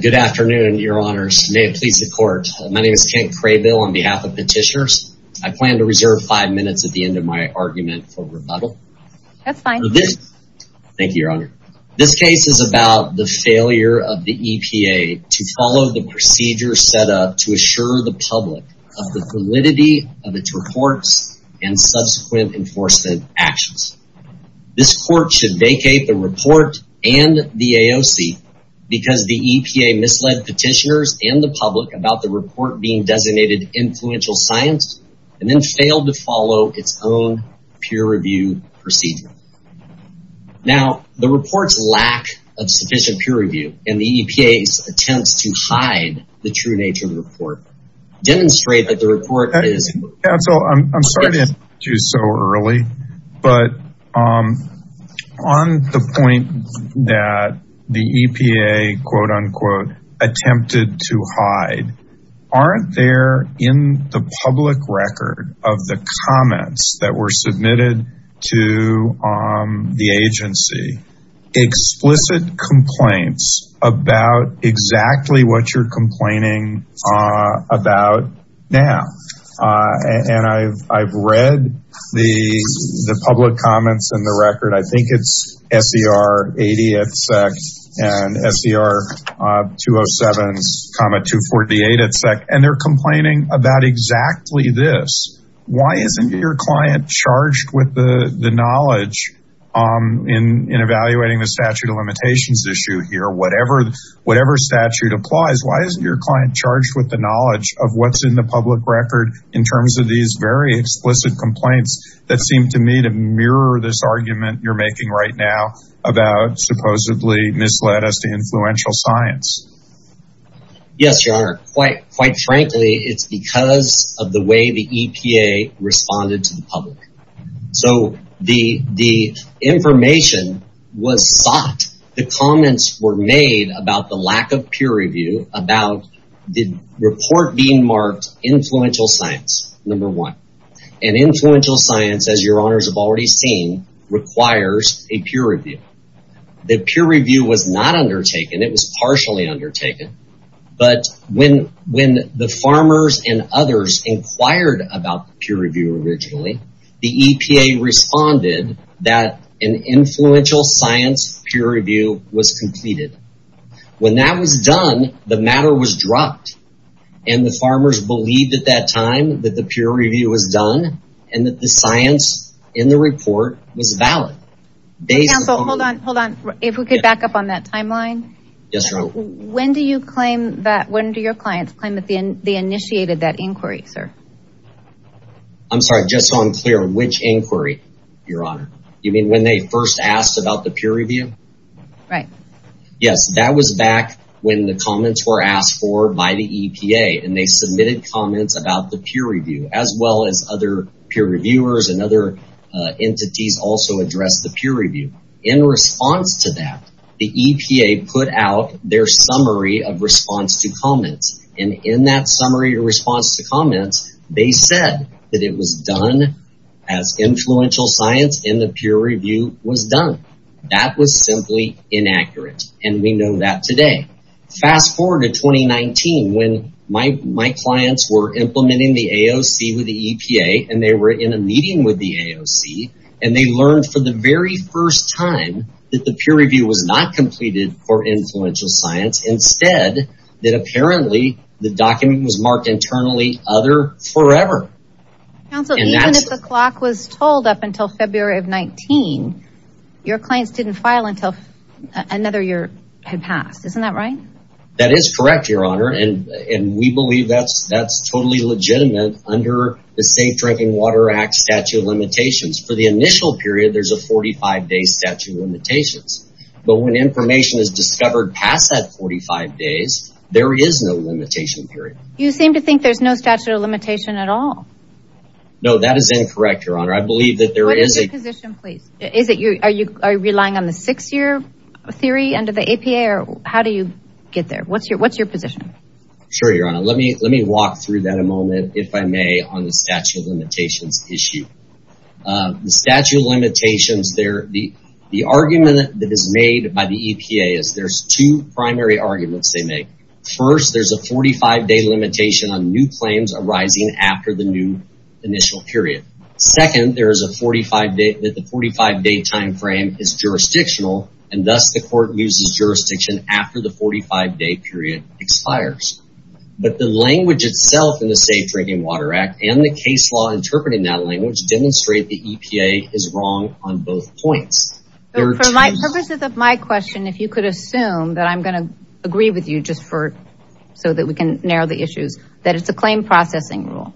Good afternoon, Your Honors. May it please the Court. My name is Kent Craybill on behalf of Petitioners. I plan to reserve five minutes at the end of my argument for rebuttal. That's fine. Thank you, Your Honor. This case is about the failure of the EPA to follow the procedure set up to assure the public of the validity of its reports and subsequent enforcement actions. This Court should vacate the report and the AOC because the EPA misled Petitioners and the public about the report being designated influential science and then failed to follow its own peer review procedure. Now, the report's lack of sufficient peer review and the EPA's attempts to hide the true nature of the report demonstrate that the report is… Counsel, I'm sorry to interrupt you so early, but on the point that the EPA, quote-unquote, attempted to hide, aren't there in the public record of the comments that were submitted to the agency explicit complaints about exactly what you're complaining about now? And I've read the public comments in the record. I think it's SER 80 at SEC and SER 207,248 at SEC. And they're complaining about exactly this. Why isn't your client charged with the knowledge in evaluating the statute of limitations issue here? Whatever statute applies, why isn't your client charged with the knowledge of what's in the public record in terms of these very explicit complaints that seem to me to mirror this argument you're making right now about supposedly misled us to influential science? Yes, Your Honor. Quite frankly, it's because of the way the EPA responded to the public. So the information was sought. The comments were made about the lack of peer review about the report being marked influential science, number one. And influential science, as Your Honors have already seen, requires a peer review. The peer review was not undertaken. It was partially undertaken. But when the farmers and others inquired about peer review originally, the EPA responded that an influential science peer review was completed. When that was done, the matter was dropped. And the farmers believed at that time that the peer review was done and that the science in the report was valid. Counsel, hold on. If we could back up on that timeline. Yes, Your Honor. When do your clients claim that they initiated that inquiry, sir? I'm sorry. Just so I'm clear, which inquiry, Your Honor? You mean when they first asked about the peer review? Right. Yes, that was back when the comments were asked for by the EPA, and they submitted comments about the peer review, as well as other peer reviewers and other entities also addressed the peer review. In response to that, the EPA put out their summary of response to comments. And in that summary response to comments, they said that it was done as influential science and the peer review was done. That was simply inaccurate. And we know that today. Fast forward to 2019 when my clients were implementing the AOC with the EPA and they were in a meeting with the AOC and they learned for the very first time that the peer review was not completed for influential science. Instead, that apparently the document was marked internally other forever. Counsel, even if the clock was told up until February of 2019, your clients didn't file until another year had passed. Isn't that right? That is correct, Your Honor. And we believe that's totally legitimate under the Safe Drinking Water Act statute of limitations. For the initial period, there's a 45-day statute of limitations. But when information is discovered past that 45 days, there is no limitation period. You seem to think there's no statute of limitation at all. No, that is incorrect, Your Honor. What is your position, please? Are you relying on the six-year theory under the EPA? How do you get there? What's your position? Sure, Your Honor. Let me walk through that a moment, if I may, on the statute of limitations issue. The statute of limitations, the argument that is made by the EPA is there's two primary arguments they make. First, there's a 45-day limitation on new claims arising after the new initial period. Second, there is a 45-day timeframe is jurisdictional, and thus the court uses jurisdiction after the 45-day period expires. But the language itself in the Safe Drinking Water Act and the case law interpreting that language demonstrate the EPA is wrong on both points. For the purposes of my question, if you could assume that I'm going to agree with you just so that we can narrow the issues, that it's a claim processing rule.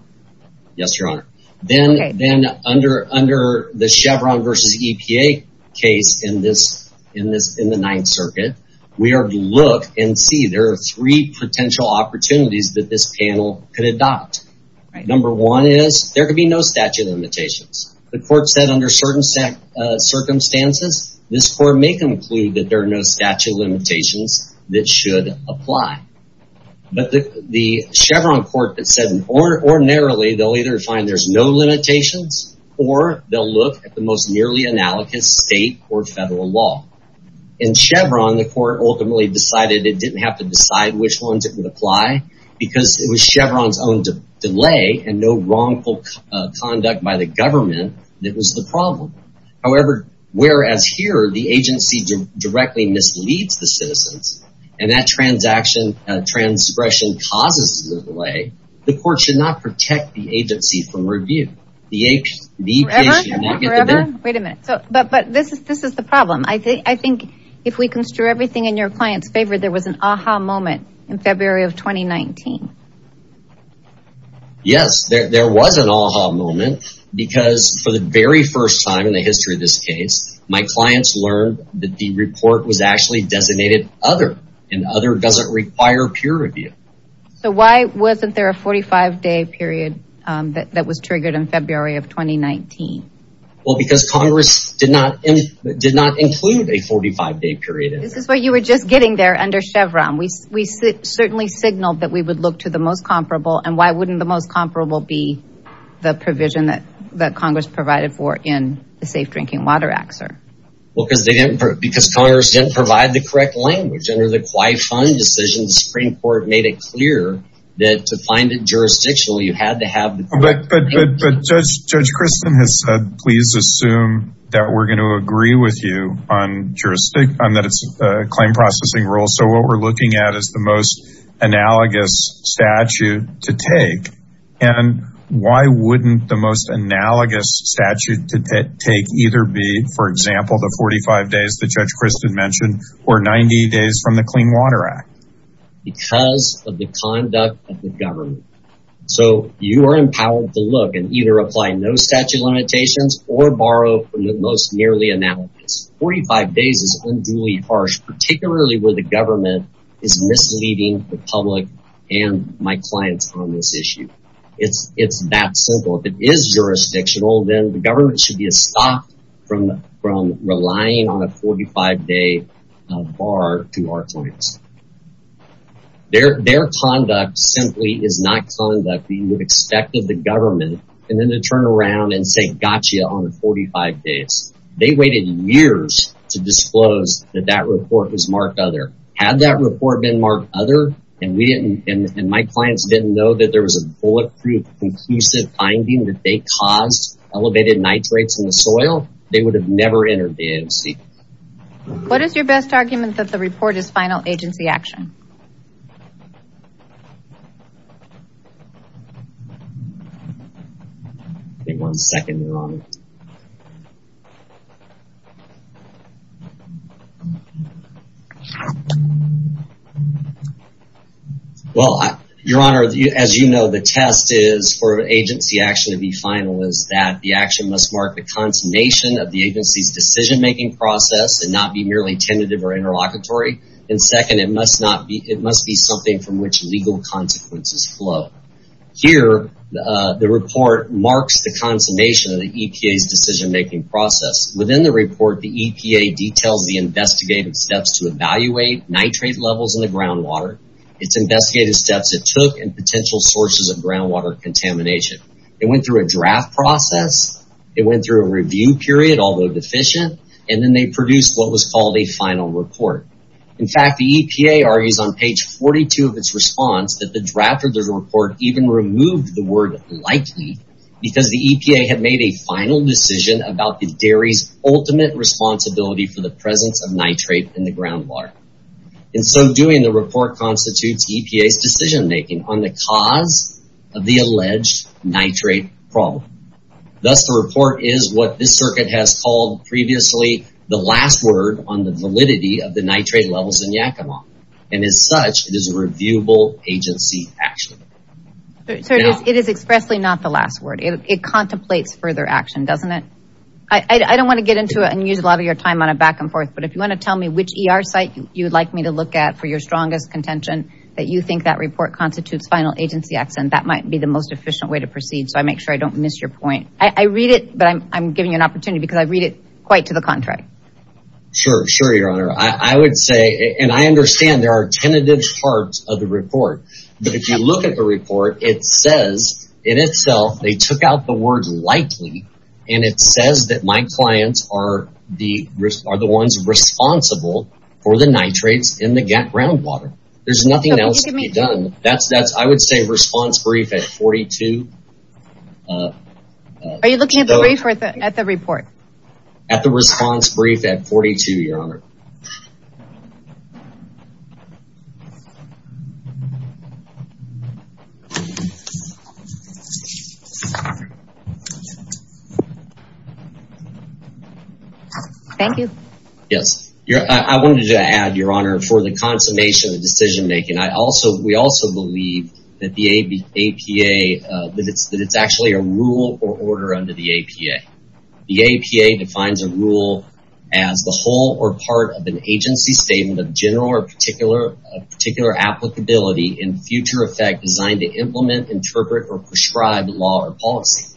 Yes, Your Honor. Then under the Chevron versus EPA case in the Ninth Circuit, we are to look and see there are three potential opportunities that this panel could adopt. Number one is there could be no statute of limitations. The court said under certain circumstances, this court may conclude that there are no statute of limitations that should apply. But the Chevron court that said ordinarily they'll either find there's no limitations or they'll look at the most nearly analogous state or federal law. In Chevron, the court ultimately decided it didn't have to decide which ones it would apply because it was Chevron's own delay and no wrongful conduct by the government that was the problem. However, whereas here the agency directly misleads the citizens and that transgression causes the delay, the court should not protect the agency from review. Forever? Wait a minute. But this is the problem. I think if we construe everything in your client's favor, there was an aha moment in February of 2019. Yes, there was an aha moment because for the very first time in the history of this case, my clients learned that the report was actually designated other and other doesn't require peer review. So why wasn't there a 45 day period that was triggered in February of 2019? Well, because Congress did not did not include a 45 day period. This is what you were just getting there under Chevron. We certainly signaled that we would look to the most comparable. And why wouldn't the most comparable be the provision that that Congress provided for in the Safe Drinking Water Act? Well, because they didn't because Congress didn't provide the correct language under the QI Fund decision. The Supreme Court made it clear that to find it jurisdictional, you had to have the. But Judge Kristen has said, please assume that we're going to agree with you on jurisdiction and that it's a claim processing rule. So what we're looking at is the most analogous statute to take. And why wouldn't the most analogous statute to take either be, for example, the 45 days that Judge Kristen mentioned or 90 days from the Clean Water Act? Because of the conduct of the government. So you are empowered to look and either apply no statute limitations or borrow from the most nearly analogous. 45 days is unduly harsh, particularly where the government is misleading the public and my clients on this issue. It's it's that simple. If it is jurisdictional, then the government should be stopped from from relying on a 45 day bar to our clients. Their their conduct simply is not conduct that you would expect of the government. And then they turn around and say, gotcha. On the 45 days, they waited years to disclose that that report was marked other had that report been marked other. And we didn't. And my clients didn't know that there was a bulletproof, conclusive finding that they caused elevated nitrates in the soil. They would have never entered the AOC. What is your best argument that the report is final agency action? One second, your honor. Well, your honor, as you know, the test is for agency action to be final, is that the action must mark the consummation of the agency's decision making process and not be merely tentative or interlocutory. And second, it must not be. It must be something from which legal consequences flow here. The report marks the consummation of the EPA's decision making process. Within the report, the EPA details the investigative steps to evaluate nitrate levels in the groundwater. It's investigated steps it took and potential sources of groundwater contamination. It went through a draft process. It went through a review period, although deficient. And then they produced what was called a final report. In fact, the EPA argues on page 42 of its response that the draft of the report even removed the word likely because the EPA had made a final decision about the dairy's ultimate responsibility for the presence of nitrate in the groundwater. And so doing, the report constitutes EPA's decision making on the cause of the alleged nitrate problem. Thus the report is what this circuit has called previously the last word on the validity of the nitrate levels in Yakima. And as such, it is a reviewable agency action. It is expressly not the last word. It contemplates further action, doesn't it? I don't want to get into it and use a lot of your time on a back and forth, but if you want to tell me which ER site you would like me to look at for your strongest contention, that you think that report constitutes final agency action, that might be the most efficient way to proceed. So I make sure I don't miss your point. I read it, but I'm giving you an opportunity because I read it quite to the contrary. Sure, sure, your honor. I would say, and I understand there are tentative parts of the report. But if you look at the report, it says in itself, they took out the word likely. And it says that my clients are the ones responsible for the nitrates in the groundwater. There's nothing else to be done. That's that's I would say response brief at 42. Are you looking at the report? At the response brief at 42, your honor. Thank you. Yes. I wanted to add, your honor, for the consummation of decision making. I also we also believe that the APA that it's that it's actually a rule or order under the APA. The APA defines a rule as the whole or part of an agency statement of general or particular particular applicability in future effect designed to implement, interpret or prescribe law or policy.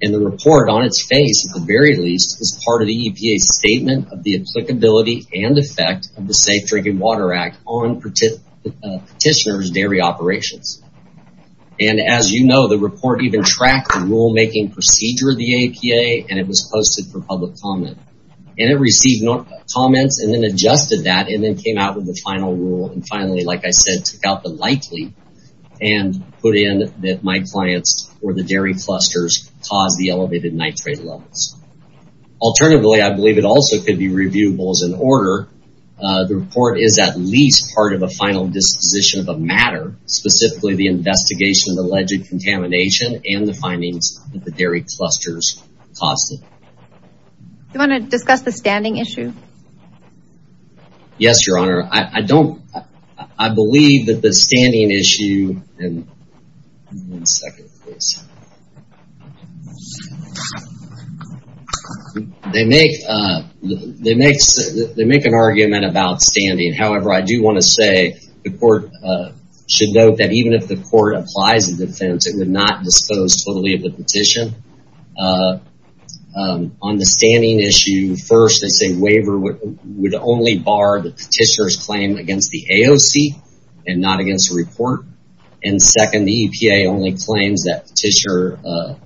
And the report on its face, at the very least, is part of the EPA statement of the applicability and effect of the Safe Drinking Water Act on petitioners dairy operations. And as you know, the report even tracked the rulemaking procedure of the APA and it was posted for public comment and it received comments and then adjusted that and then came out with the final rule. And finally, like I said, took out the likely and put in that my clients or the dairy clusters cause the elevated nitrate levels. Alternatively, I believe it also could be reviewable as an order. The report is at least part of a final disposition of a matter, specifically the investigation of alleged contamination and the findings that the dairy clusters caused it. You want to discuss the standing issue? Yes, your honor. I don't. I believe that the standing issue. And one second, please. They make they make they make an argument about standing. However, I do want to say the court should note that even if the court applies a defense, it would not dispose totally of the petition on the standing issue. First, it's a waiver would only bar the petitioners claim against the AOC and not against the report. And second, the EPA only claims that Petitioner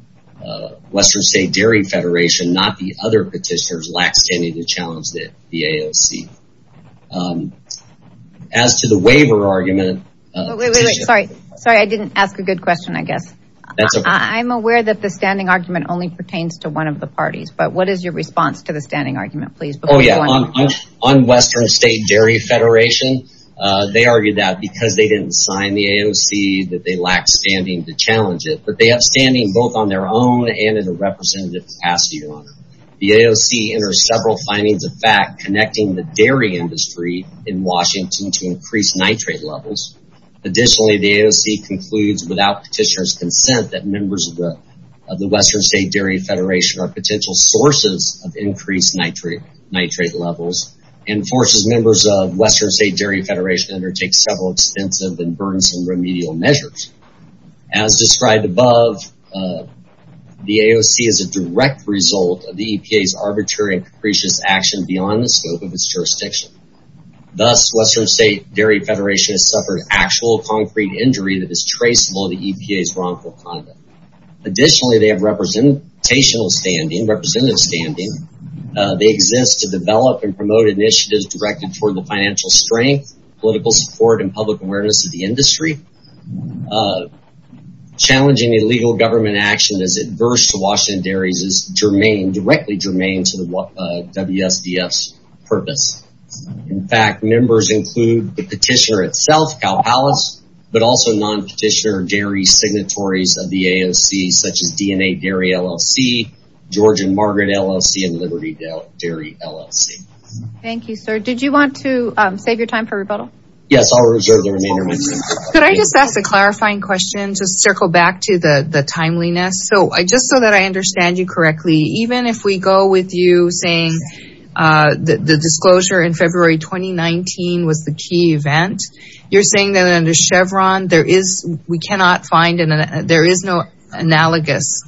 Western State Dairy Federation, not the other petitioners, lacks any of the challenge that the AOC. As to the waiver argument. Sorry, I didn't ask a good question, I guess. I'm aware that the standing argument only pertains to one of the parties. But what is your response to the standing argument, please? Oh, yeah. On Western State Dairy Federation, they argued that because they didn't sign the AOC, that they lacked standing to challenge it. But they have standing both on their own and in a representative capacity. The AOC enters several findings of fact connecting the dairy industry in Washington to increase nitrate levels. Additionally, the AOC concludes without petitioner's consent that members of the Western State Dairy Federation are potential sources of increased nitrate, nitrate levels and forces members of Western State Dairy Federation undertake several extensive and burdensome remedial measures. As described above, the AOC is a direct result of the EPA's arbitrary and capricious action beyond the scope of its jurisdiction. Thus, Western State Dairy Federation has suffered actual concrete injury that is traceable to EPA's wrongful conduct. Additionally, they have representational standing, representative standing. They exist to develop and promote initiatives directed toward the financial strength, political support and public awareness of the industry. Challenging illegal government action is adverse to Washington dairies is germane, directly germane to the WSDF's purpose. In fact, members include the petitioner itself, Cal Palace, but also non-petitioner dairy signatories of the AOC, such as DNA Dairy LLC, George and Margaret LLC and Liberty Dairy LLC. Thank you, sir. Did you want to save your time for rebuttal? Yes, I'll reserve the remainder of my time. Could I just ask a clarifying question to circle back to the timeliness? So I just so that I understand you correctly, even if we go with you saying that the disclosure in February 2019 was the key event, you're saying that under Chevron, there is we cannot find and there is no analogous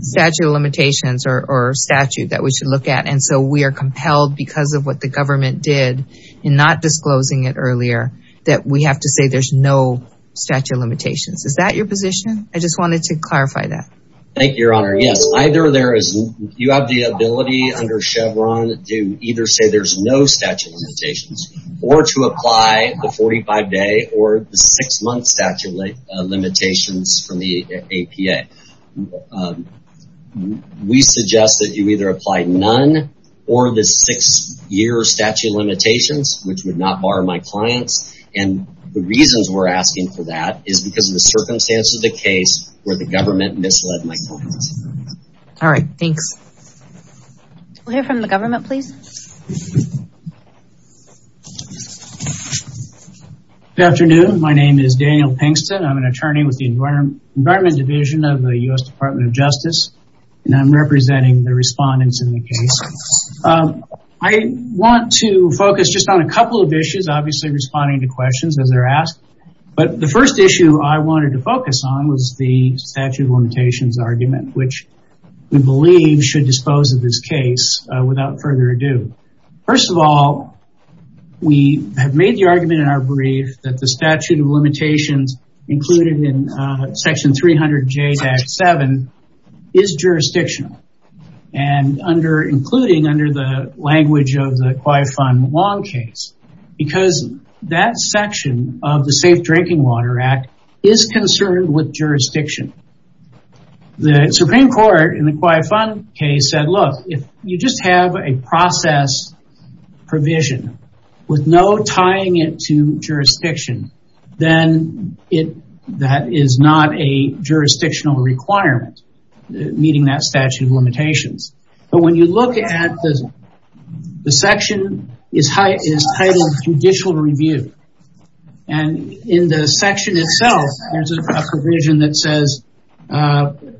statute of limitations or statute that we should look at. And so we are compelled because of what the government did in not disclosing it earlier that we have to say there's no statute of limitations. Is that your position? I just wanted to clarify that. Thank you, Your Honor. Yes, either there is you have the ability under Chevron to either say there's no statute of limitations or to apply the 45 day or six month statute of limitations from the APA. We suggest that you either apply none or the six year statute of limitations, which would not bar my clients. And the reasons we're asking for that is because of the circumstances of the case where the government misled my clients. All right. Thanks. We'll hear from the government, please. Good afternoon. My name is Daniel Pinkston. I'm an attorney with the Environment Division of the U.S. Department of Justice. And I'm representing the respondents in the case. I want to focus just on a couple of issues, obviously responding to questions as they're asked. But the first issue I wanted to focus on was the statute of limitations argument, which we believe should dispose of this case without further ado. First of all, we have made the argument in our brief that the statute of limitations included in Section 300J-7 is jurisdictional. And under including under the language of the QIA fund long case, because that section of the Safe Drinking Water Act is concerned with jurisdiction. The Supreme Court in the QIA fund case said, look, if you just have a process provision with no tying it to jurisdiction, then that is not a jurisdictional requirement meeting that statute of limitations. But when you look at this, the section is titled judicial review. And in the section itself, there's a provision that says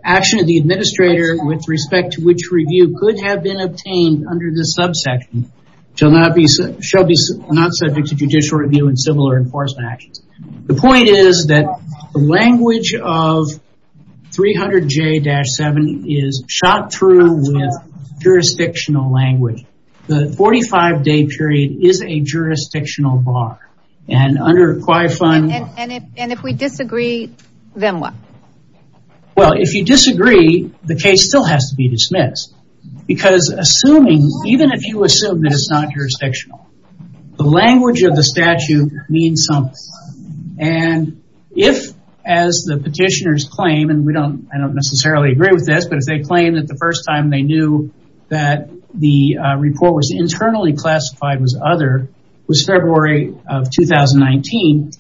action of the administrator with respect to which review could have been obtained under the subsection shall not subject to judicial review and similar enforcement actions. The point is that the language of 300J-7 is shot through with jurisdictional language. The 45 day period is a jurisdictional bar and under QIA fund. And if we disagree, then what? Well, if you disagree, the case still has to be dismissed because assuming even if you assume that it's not jurisdictional, the language of the statute means something. And if, as the petitioners claim, and we don't I don't necessarily agree with this, but if they claim that the first time they knew that the report was internally classified was other was February of 2019,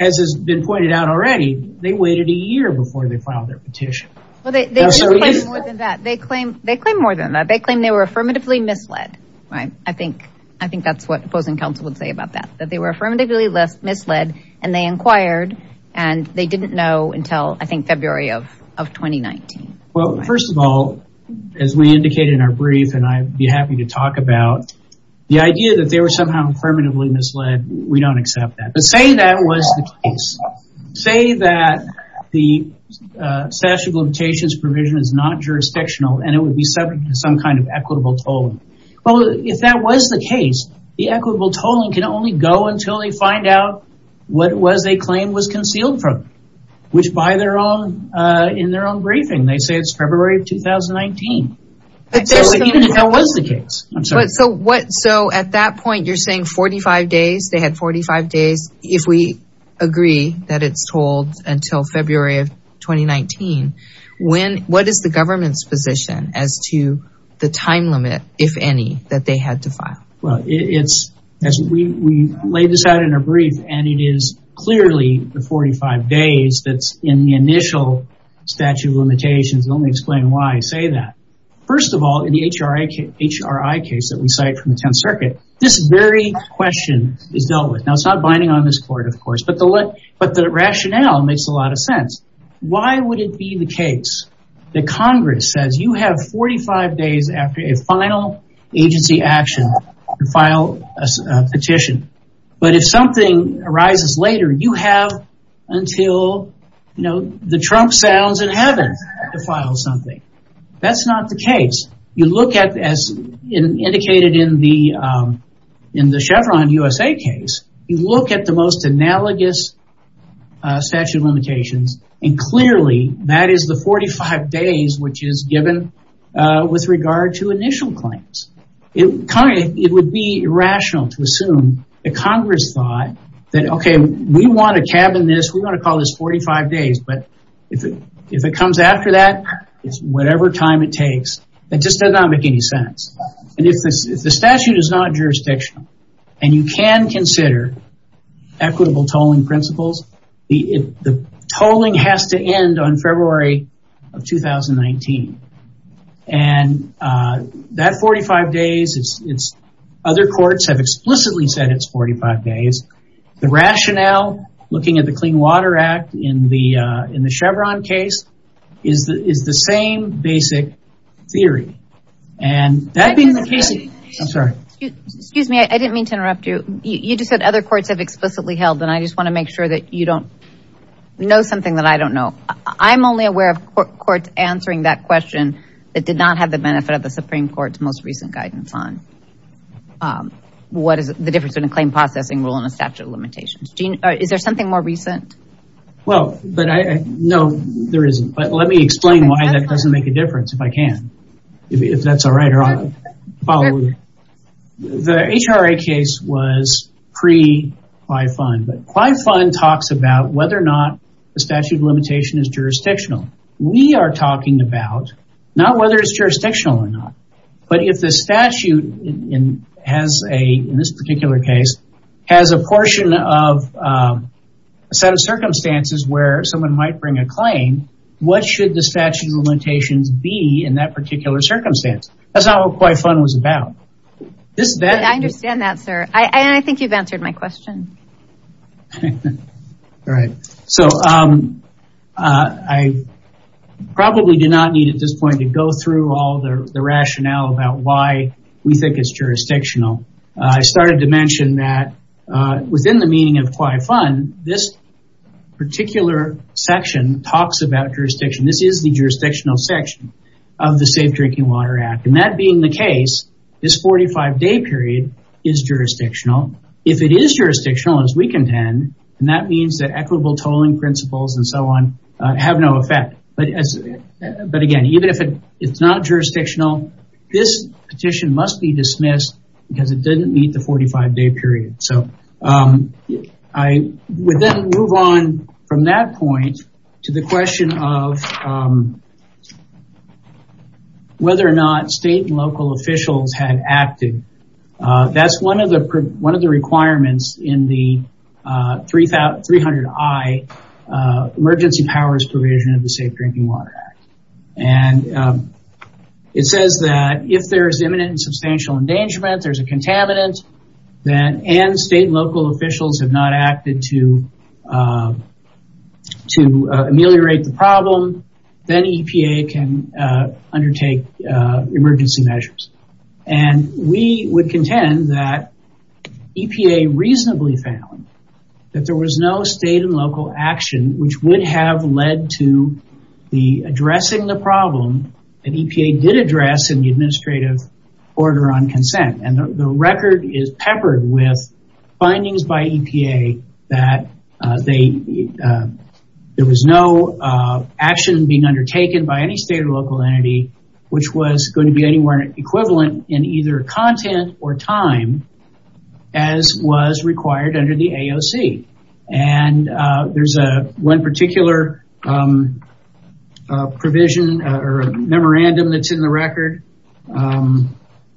as has been pointed out already, they waited a year before they filed their petition. They claim more than that. They claim they were affirmatively misled. I think that's what opposing counsel would say about that, that they were affirmatively misled and they inquired and they didn't know until I think February of 2019. Well, first of all, as we indicated in our brief, and I'd be happy to talk about the idea that they were somehow affirmatively misled. We don't accept that. But saying that was the case. Say that the statute of limitations provision is not jurisdictional and it would be subject to some kind of equitable tolling. Well, if that was the case, the equitable tolling can only go until they find out what it was they claim was concealed from, which by their own in their own briefing, they say it's February of 2019. Even if that was the case. So at that point, you're saying 45 days, they had 45 days. If we agree that it's told until February of 2019, what is the government's position as to the time limit, if any, that they had to file? Well, it's as we laid this out in a brief, and it is clearly the 45 days that's in the initial statute of limitations. Let me explain why I say that. First of all, in the HRI case that we cite from the 10th Circuit, this very question is dealt with. Now, it's not binding on this court, of course, but the rationale makes a lot of sense. Why would it be the case that Congress says you have 45 days after a final agency action to file a petition? But if something arises later, you have until the Trump sounds in heaven to file something. As indicated in the Chevron USA case, you look at the most analogous statute of limitations, and clearly that is the 45 days which is given with regard to initial claims. It would be irrational to assume that Congress thought that, okay, we want to cabin this, we want to call this 45 days, but if it comes after that, it's whatever time it takes. It just does not make any sense. If the statute is not jurisdictional, and you can consider equitable tolling principles, the tolling has to end on February of 2019. Other courts have explicitly said it's 45 days. The rationale, looking at the Clean Water Act in the Chevron case, is the same basic theory. Excuse me, I didn't mean to interrupt you. You just said other courts have explicitly held, and I just want to make sure that you don't know something that I don't know. I'm only aware of courts answering that question that did not have the benefit of the Supreme Court's most recent guidance on what is the difference between a claim processing rule and a claim processing act. Is there something more recent? No, there isn't. Let me explain why that doesn't make a difference if I can. The HRA case was pre-QI Fund, but QI Fund talks about whether or not the statute of limitation is jurisdictional. We are talking about not whether it's jurisdictional or not, but if the statute in this particular case has a portion of a set of circumstances where someone might bring a claim, what should the statute of limitations be in that particular circumstance? That's not what QI Fund was about. I understand that, sir. I think you've answered my question. All right. I probably do not need at this point to go through all the rationale about why we think it's jurisdictional. I started to mention that within the meaning of QI Fund, this particular section talks about jurisdiction. This is the jurisdictional section of the Safe Drinking Water Act. That being the case, this 45-day period is jurisdictional. If it is jurisdictional, as we contend, that means that equitable tolling principles and so on have no effect. Again, even if it's not jurisdictional, this petition must be dismissed because it didn't meet the 45-day period. I would then move on from that point to the question of whether or not state and local officials had acted. That's one of the requirements in the 300I Emergency Powers Provision of the Safe Drinking Water Act. It says that if there is imminent and substantial endangerment, there's a contaminant, and state and local officials have not acted to ameliorate the problem, then EPA can undertake emergency measures. We would contend that EPA reasonably found that there was no state and local action which would have led to addressing the problem that EPA did address in the administrative order on consent. The record is peppered with findings by EPA that there was no action being undertaken by any state or local entity which was going to be anywhere equivalent in either content or time as was required under the AOC. There's one particular provision or memorandum that's in the record.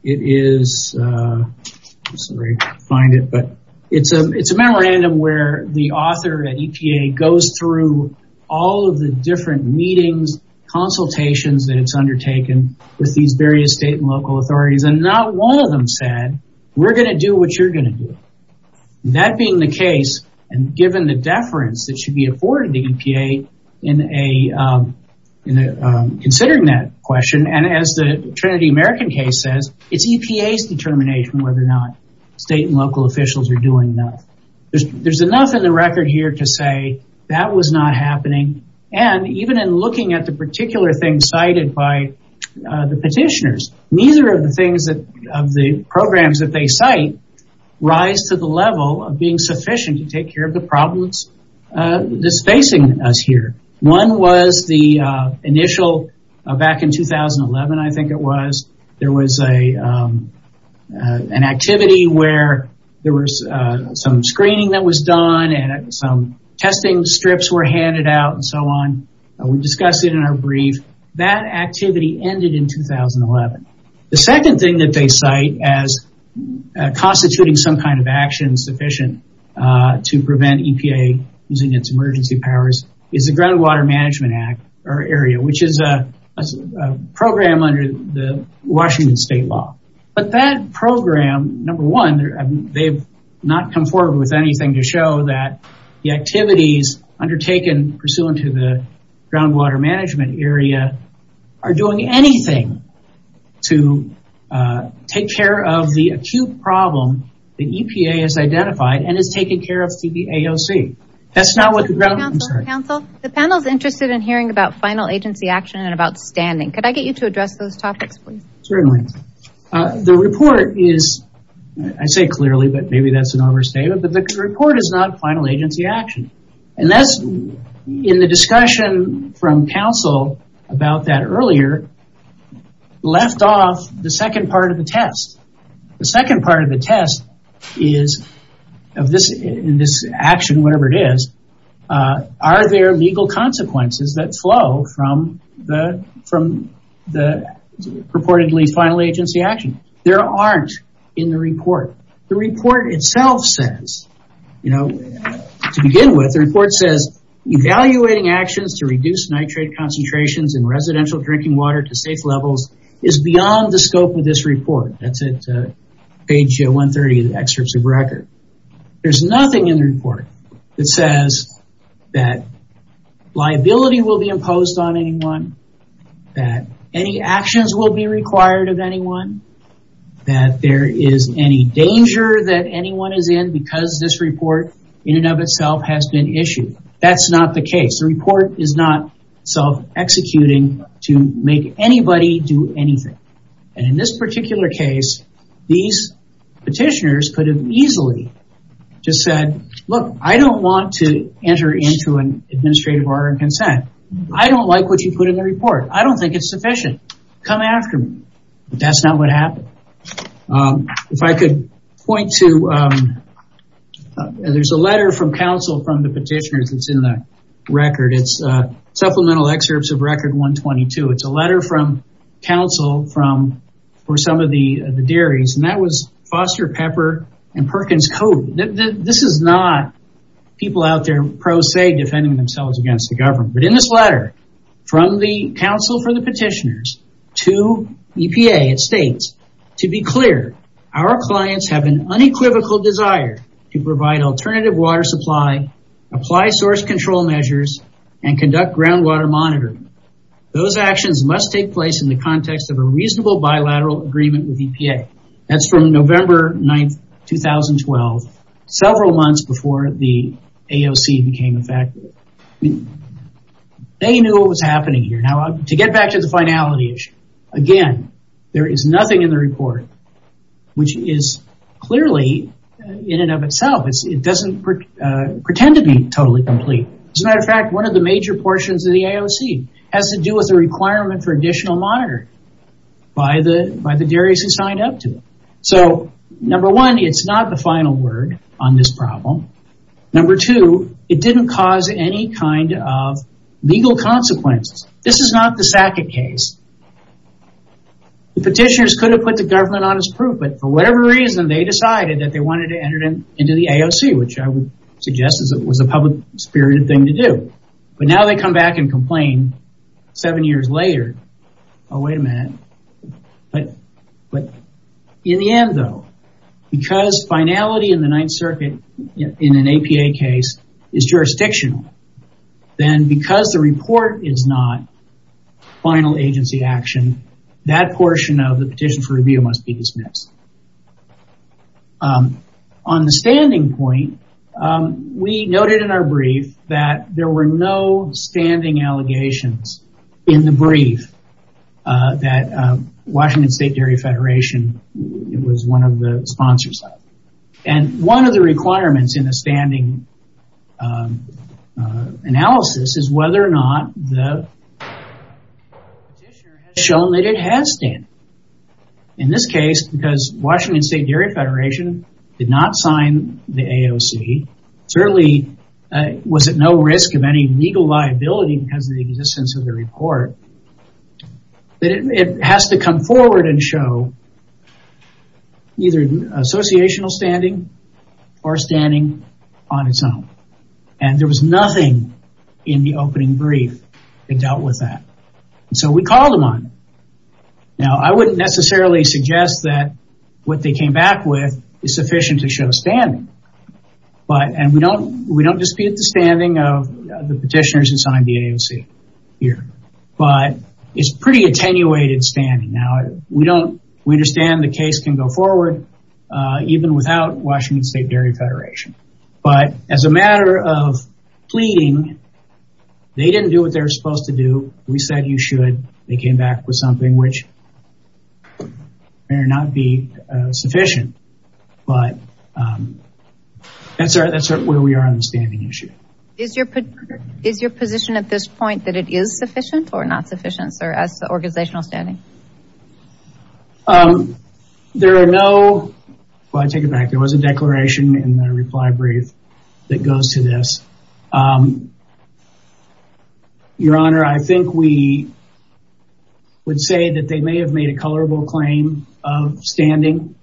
It's a memorandum where the author at EPA goes through all of the different meetings, consultations that it's undertaken with these various state and local authorities, and not one of them said, we're going to do what you're going to do. That being the case, and given the deference that should be afforded to EPA in considering that question, and as the Trinity American case says, it's EPA's determination whether or not state and local officials are doing enough. There's enough in the record here to say that was not happening, and even in looking at the particular things cited by the petitioners, neither of the programs that they cite rise to the level of being sufficient to take care of the problems that's facing us here. One was the initial, back in 2011 I think it was, there was an activity where there was some screening that was done and some testing strips were handed out and so on. We discussed it in our brief. That activity ended in 2011. The second thing that they cite as constituting some kind of action sufficient to prevent EPA using its emergency powers in the groundwater management area, which is a program under the Washington state law. But that program, number one, they've not come forward with anything to show that the activities undertaken pursuant to the groundwater management area are doing anything to take care of the acute problem that EPA has identified and is taking care of through the AOC. Council, the panel is interested in hearing about final agency action and about standing. Could I get you to address those topics, please? Certainly. The report is, I say clearly, but maybe that's an overstatement, but the report is not final agency action. And that's, in the discussion from council about that earlier, left off the second part of the test. The second part of the test is in this action, whatever it is, are there legal consequences that flow from the purportedly final agency action? There aren't in the report. The report itself says, to begin with, the report says, evaluating actions to reduce nitrate concentrations in residential drinking water to safe levels is beyond the scope of this report. It's page 130 of the excerpts of record. There's nothing in the report that says that liability will be imposed on anyone, that any actions will be required of anyone, that there is any danger that anyone is in because this report in and of itself has been issued. That's not the case. The report is not self-executing to make anybody do anything. And in this particular case, these petitioners could have easily just said, look, I don't want to enter into an administrative order of consent. I don't like what you put in the report. I don't think it's sufficient. Come after me. That's not what happened. If I could point to, there's a letter from council from the petitioners that's in the record. It's supplemental excerpts of record 122. It's a letter from council for some of the dairies. And that was Foster Pepper and Perkins Cope. This is not people out there pro se defending themselves against the government. But in this letter, from the council for the petitioners to EPA, it states, to be clear, our clients have an unequivocal desire to provide alternative water supply, apply source control measures, and conduct groundwater monitoring. Those actions must take place in the context of a reasonable bilateral agreement with EPA. That's from November 9th, 2012, several months before the AOC became effective. They knew what was happening here. To get back to the finality issue, again, there is nothing in the report, which is clearly in and of itself, it doesn't pretend to be totally complete. As a matter of fact, one of the major portions of the AOC has to do with the requirement for additional monitoring by the dairies who signed up to it. So, number one, it's not the final word on this problem. Number two, it didn't cause any kind of legal consequences. This is not the Sackett case. The petitioners could have put the government on its proof, but for whatever reason, they decided that they wanted to enter into the AOC, which I would suggest was a public-spirited thing to do. But now they come back and complain seven years later. Oh, wait a minute. In the end, though, because finality in the Ninth Circuit in an APA case is jurisdictional, then because the report is not final agency action, that portion of the petition for review must be dismissed. On the standing point, we noted in our brief that there were no standing allegations in the brief that Washington State Dairy Federation was one of the sponsors of. And one of the requirements in the standing analysis is whether or not the petitioner has shown that it has standing. In this case, because Washington State Dairy Federation did not sign the AOC, certainly was at no risk of any legal liability because of the existence of the report, it has to come forward and show either associational standing or standing on its own. And there was nothing in the opening brief that dealt with that. So we called them on it. I wouldn't necessarily suggest that what they came back with is sufficient to show standing. And we don't dispute the standing of the petitioners who signed the AOC here. But it's pretty attenuated standing. We understand the case can go forward even without Washington State Dairy Federation. But as a matter of pleading, they didn't do what they were supposed to do. We said you should. They came back with something which may or may not be sufficient. But that's where we are on the standing issue. Is your position at this point that it is sufficient or not sufficient, sir, as organizational standing? There are no... Well, I take it back. There was a declaration in the reply brief that goes to this. Your Honor, I think we would say that they may have made a colorable claim of standing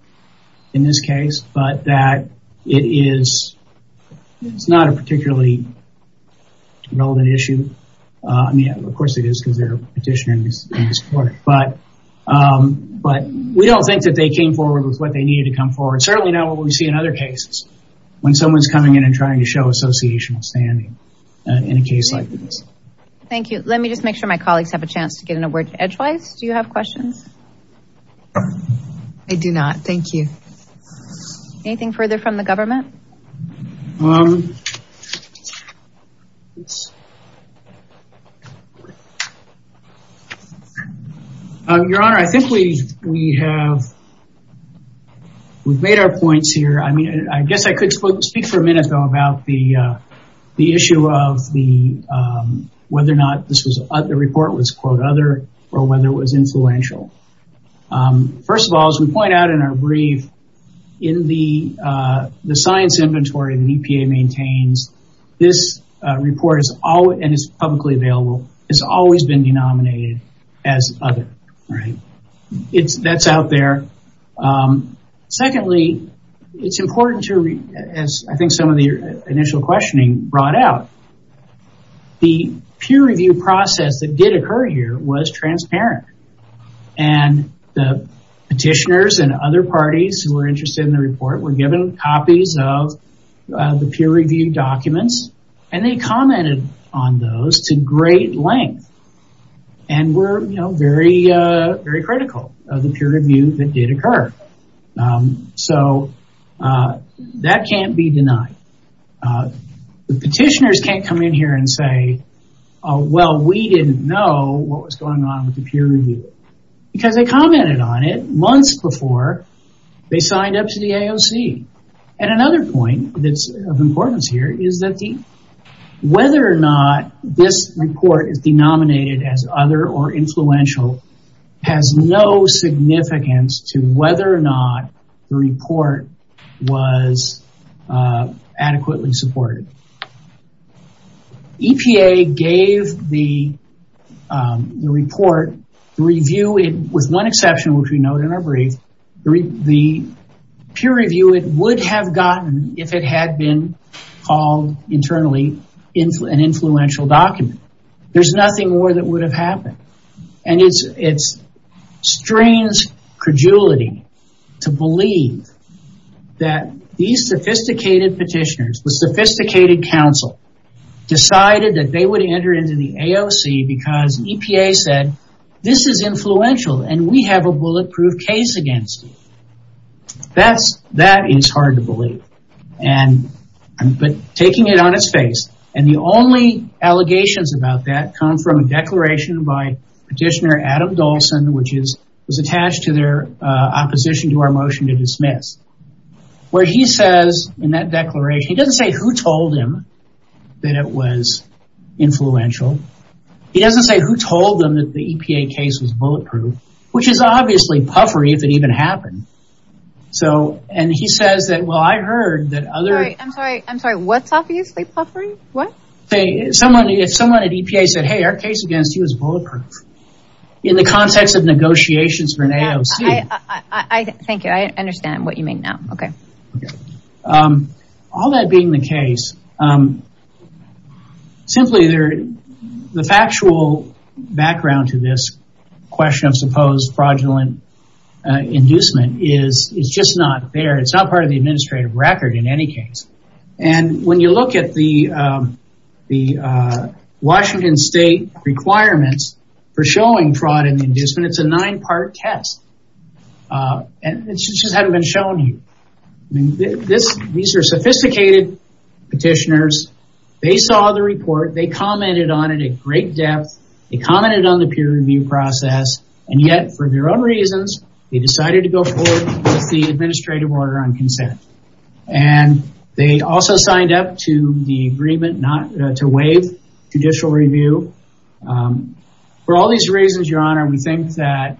in this case, but that it is not a particularly relevant issue. I mean, of course it is because they're a petitioner in this court. But we don't think that they came forward with what they needed to come forward. Certainly not what we see in other cases when someone's coming in and trying to show associational standing in a case like this. Thank you. Let me just make sure my colleagues have a chance to get in a word. Edgewise, do you have questions? I do not. Thank you. Anything further from the government? Your Honor, I think we have made our points here. I mean, I guess I could speak for a minute about the issue of whether or not the report was, quote, other or whether it was influential. First of all, as we point out in our brief, in the science inventory the EPA maintains, this report is publicly available. It's always been denominated as other. That's out there. Secondly, it's important to, as I think some of the initial questioning brought out, the peer review process that did occur here was transparent. And the petitioners and other parties who were interested in the report were given copies of the peer review documents. And they commented on those to great length. And were very critical of the peer review that did occur. So that can't be denied. The petitioners can't come in here and say, well, we didn't know what was going on with the peer review. Because they commented on it months before they signed up to the AOC. And another point that's of importance here is that whether or not this report is denominated as other or influential has no significance to whether or not the report was adequately supported. EPA gave the report, with one exception which we note in our brief, the peer review it would have gotten if it had been called internally an influential document. There's nothing more that would have happened. And it's strange credulity to believe that these sophisticated petitioners, the sophisticated council, decided that they would enter into the AOC because EPA said, this is influential and we have a bulletproof case against you. But taking it on its face. And the only allegations about that come from a declaration by Petitioner Adam Dolson, which was attached to their opposition to our motion to dismiss. Where he says in that declaration, he doesn't say who told him that it was influential. He doesn't say who told them that the EPA case was bulletproof. Which is obviously puffery if it even happened. And he says, well I heard that other... I'm sorry, what's obviously puffery? If someone at EPA said, hey our case against you is bulletproof. In the context of negotiations for an AOC. Thank you, I understand what you mean now. All that being the case, simply the factual background to this question of supposed fraudulent inducement is just not there. It's not part of the administrative record in any case. And when you look at the Washington State requirements for showing fraud and inducement, it's a nine part test. And it just hasn't been shown to you. These are sophisticated petitioners. They saw the report. They commented on it at great depth. They commented on the peer review process. And yet for their own reasons, they decided to go forward with the administrative order on consent. And they also signed up to the agreement not to waive judicial review. For all these reasons, your honor, we think that...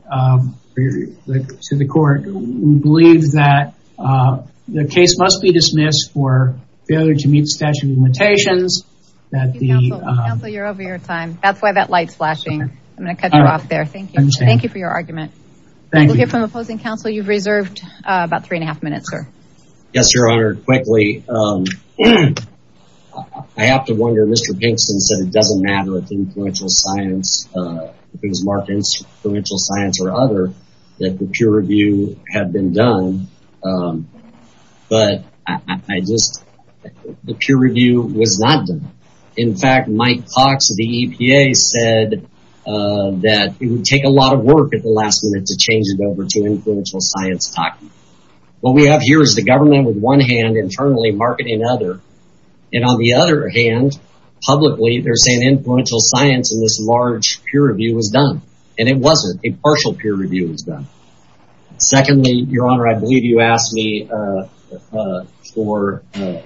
To the court, we believe that the case must be dismissed for failure to meet statute of limitations. Counsel, you're over your time. That's why that light's flashing. I'm going to cut you off there. Thank you. Thank you for your argument. Thank you. We'll hear from the opposing counsel. You've reserved about three and a half minutes, sir. Yes, your honor. Quickly. I have to wonder, Mr. Pinkston said it doesn't matter if influential science... ...or other, that the peer review had been done. But I just... The peer review was not done. In fact, Mike Cox of the EPA said that it would take a lot of work at the last minute to change it over to influential science talking. What we have here is the government with one hand internally marketing the other. And on the other hand, publicly, they're saying influential science in this large peer review was done. And it wasn't. A partial peer review was done. Secondly, your honor, I believe you asked me for a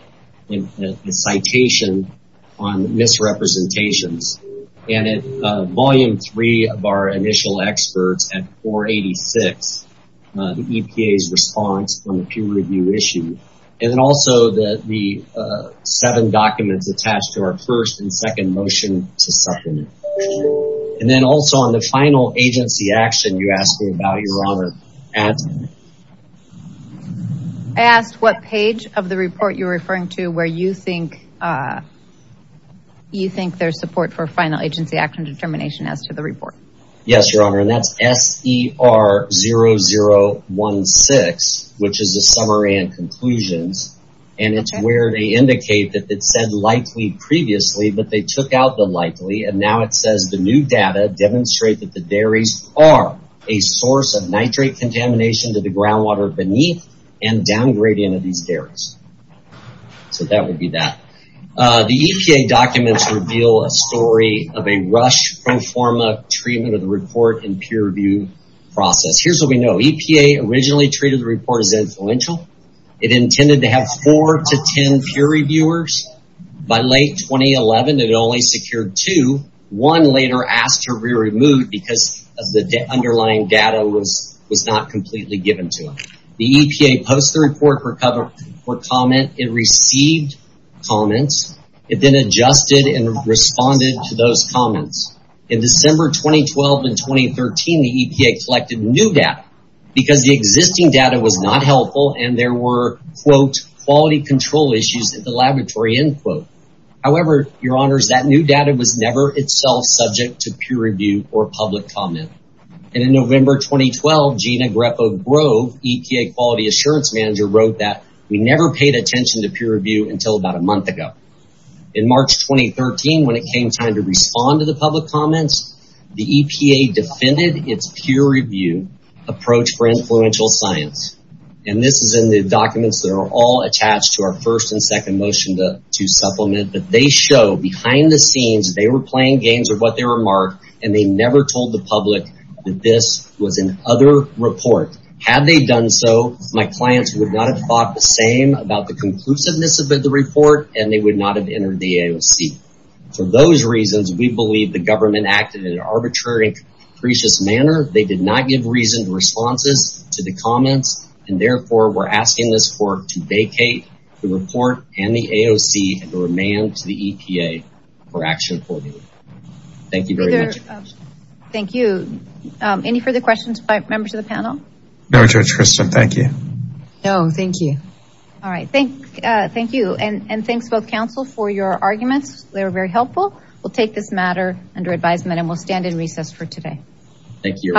citation on misrepresentations. And in volume three of our initial experts at 486, the EPA's response on the peer review issue. And then also the seven documents attached to our first and second motion to supplement. And then also on the final agency action you asked me about, your honor. I asked what page of the report you're referring to where you think there's support for final agency action determination as to the report. Yes, your honor. And that's SER0016, which is the summary and conclusions. And it's where they indicate that it said likely previously, but they took out the likely. And now it says the new data demonstrate that the dairies are a source of nitrate contamination to the groundwater beneath and downgrading of these dairies. So that would be that. The EPA documents reveal a story of a rush pro forma treatment of the report and peer review process. Here's what we know. EPA originally treated the report as influential. It intended to have four to ten peer reviewers. By late 2011, it only secured two. One later asked to be removed because the underlying data was not completely given to it. The EPA posts the report for comment. It received comments. It then adjusted and responded to those comments. In December 2012 and 2013, the EPA collected new data. Because the existing data was not helpful and there were, quote, quality control issues at the laboratory, end quote. However, your honors, that new data was never itself subject to peer review or public comment. And in November 2012, Gina Greco-Grove, EPA quality assurance manager, wrote that we never paid attention to peer review until about a month ago. In March 2013, when it came time to respond to the public comments, the EPA defended its peer review approach for influential science. And this is in the documents that are all attached to our first and second motion to supplement. But they show behind the scenes they were playing games with what they remarked and they never told the public that this was an other report. Had they done so, my clients would not have thought the same about the conclusiveness of the report and they would not have entered the AOC. For those reasons, we believe the government acted in an arbitrary and capricious manner. They did not give reasoned responses to the comments. And therefore, we're asking this court to vacate the report and the AOC and to remand to the EPA for action accordingly. Thank you very much. Thank you. Any further questions by members of the panel? No, Judge Kristen. Thank you. No, thank you. All right. Thank you. And thanks both counsel for your arguments. They were very helpful. We'll take this matter under advisement and we'll stand in recess for today. Thank you.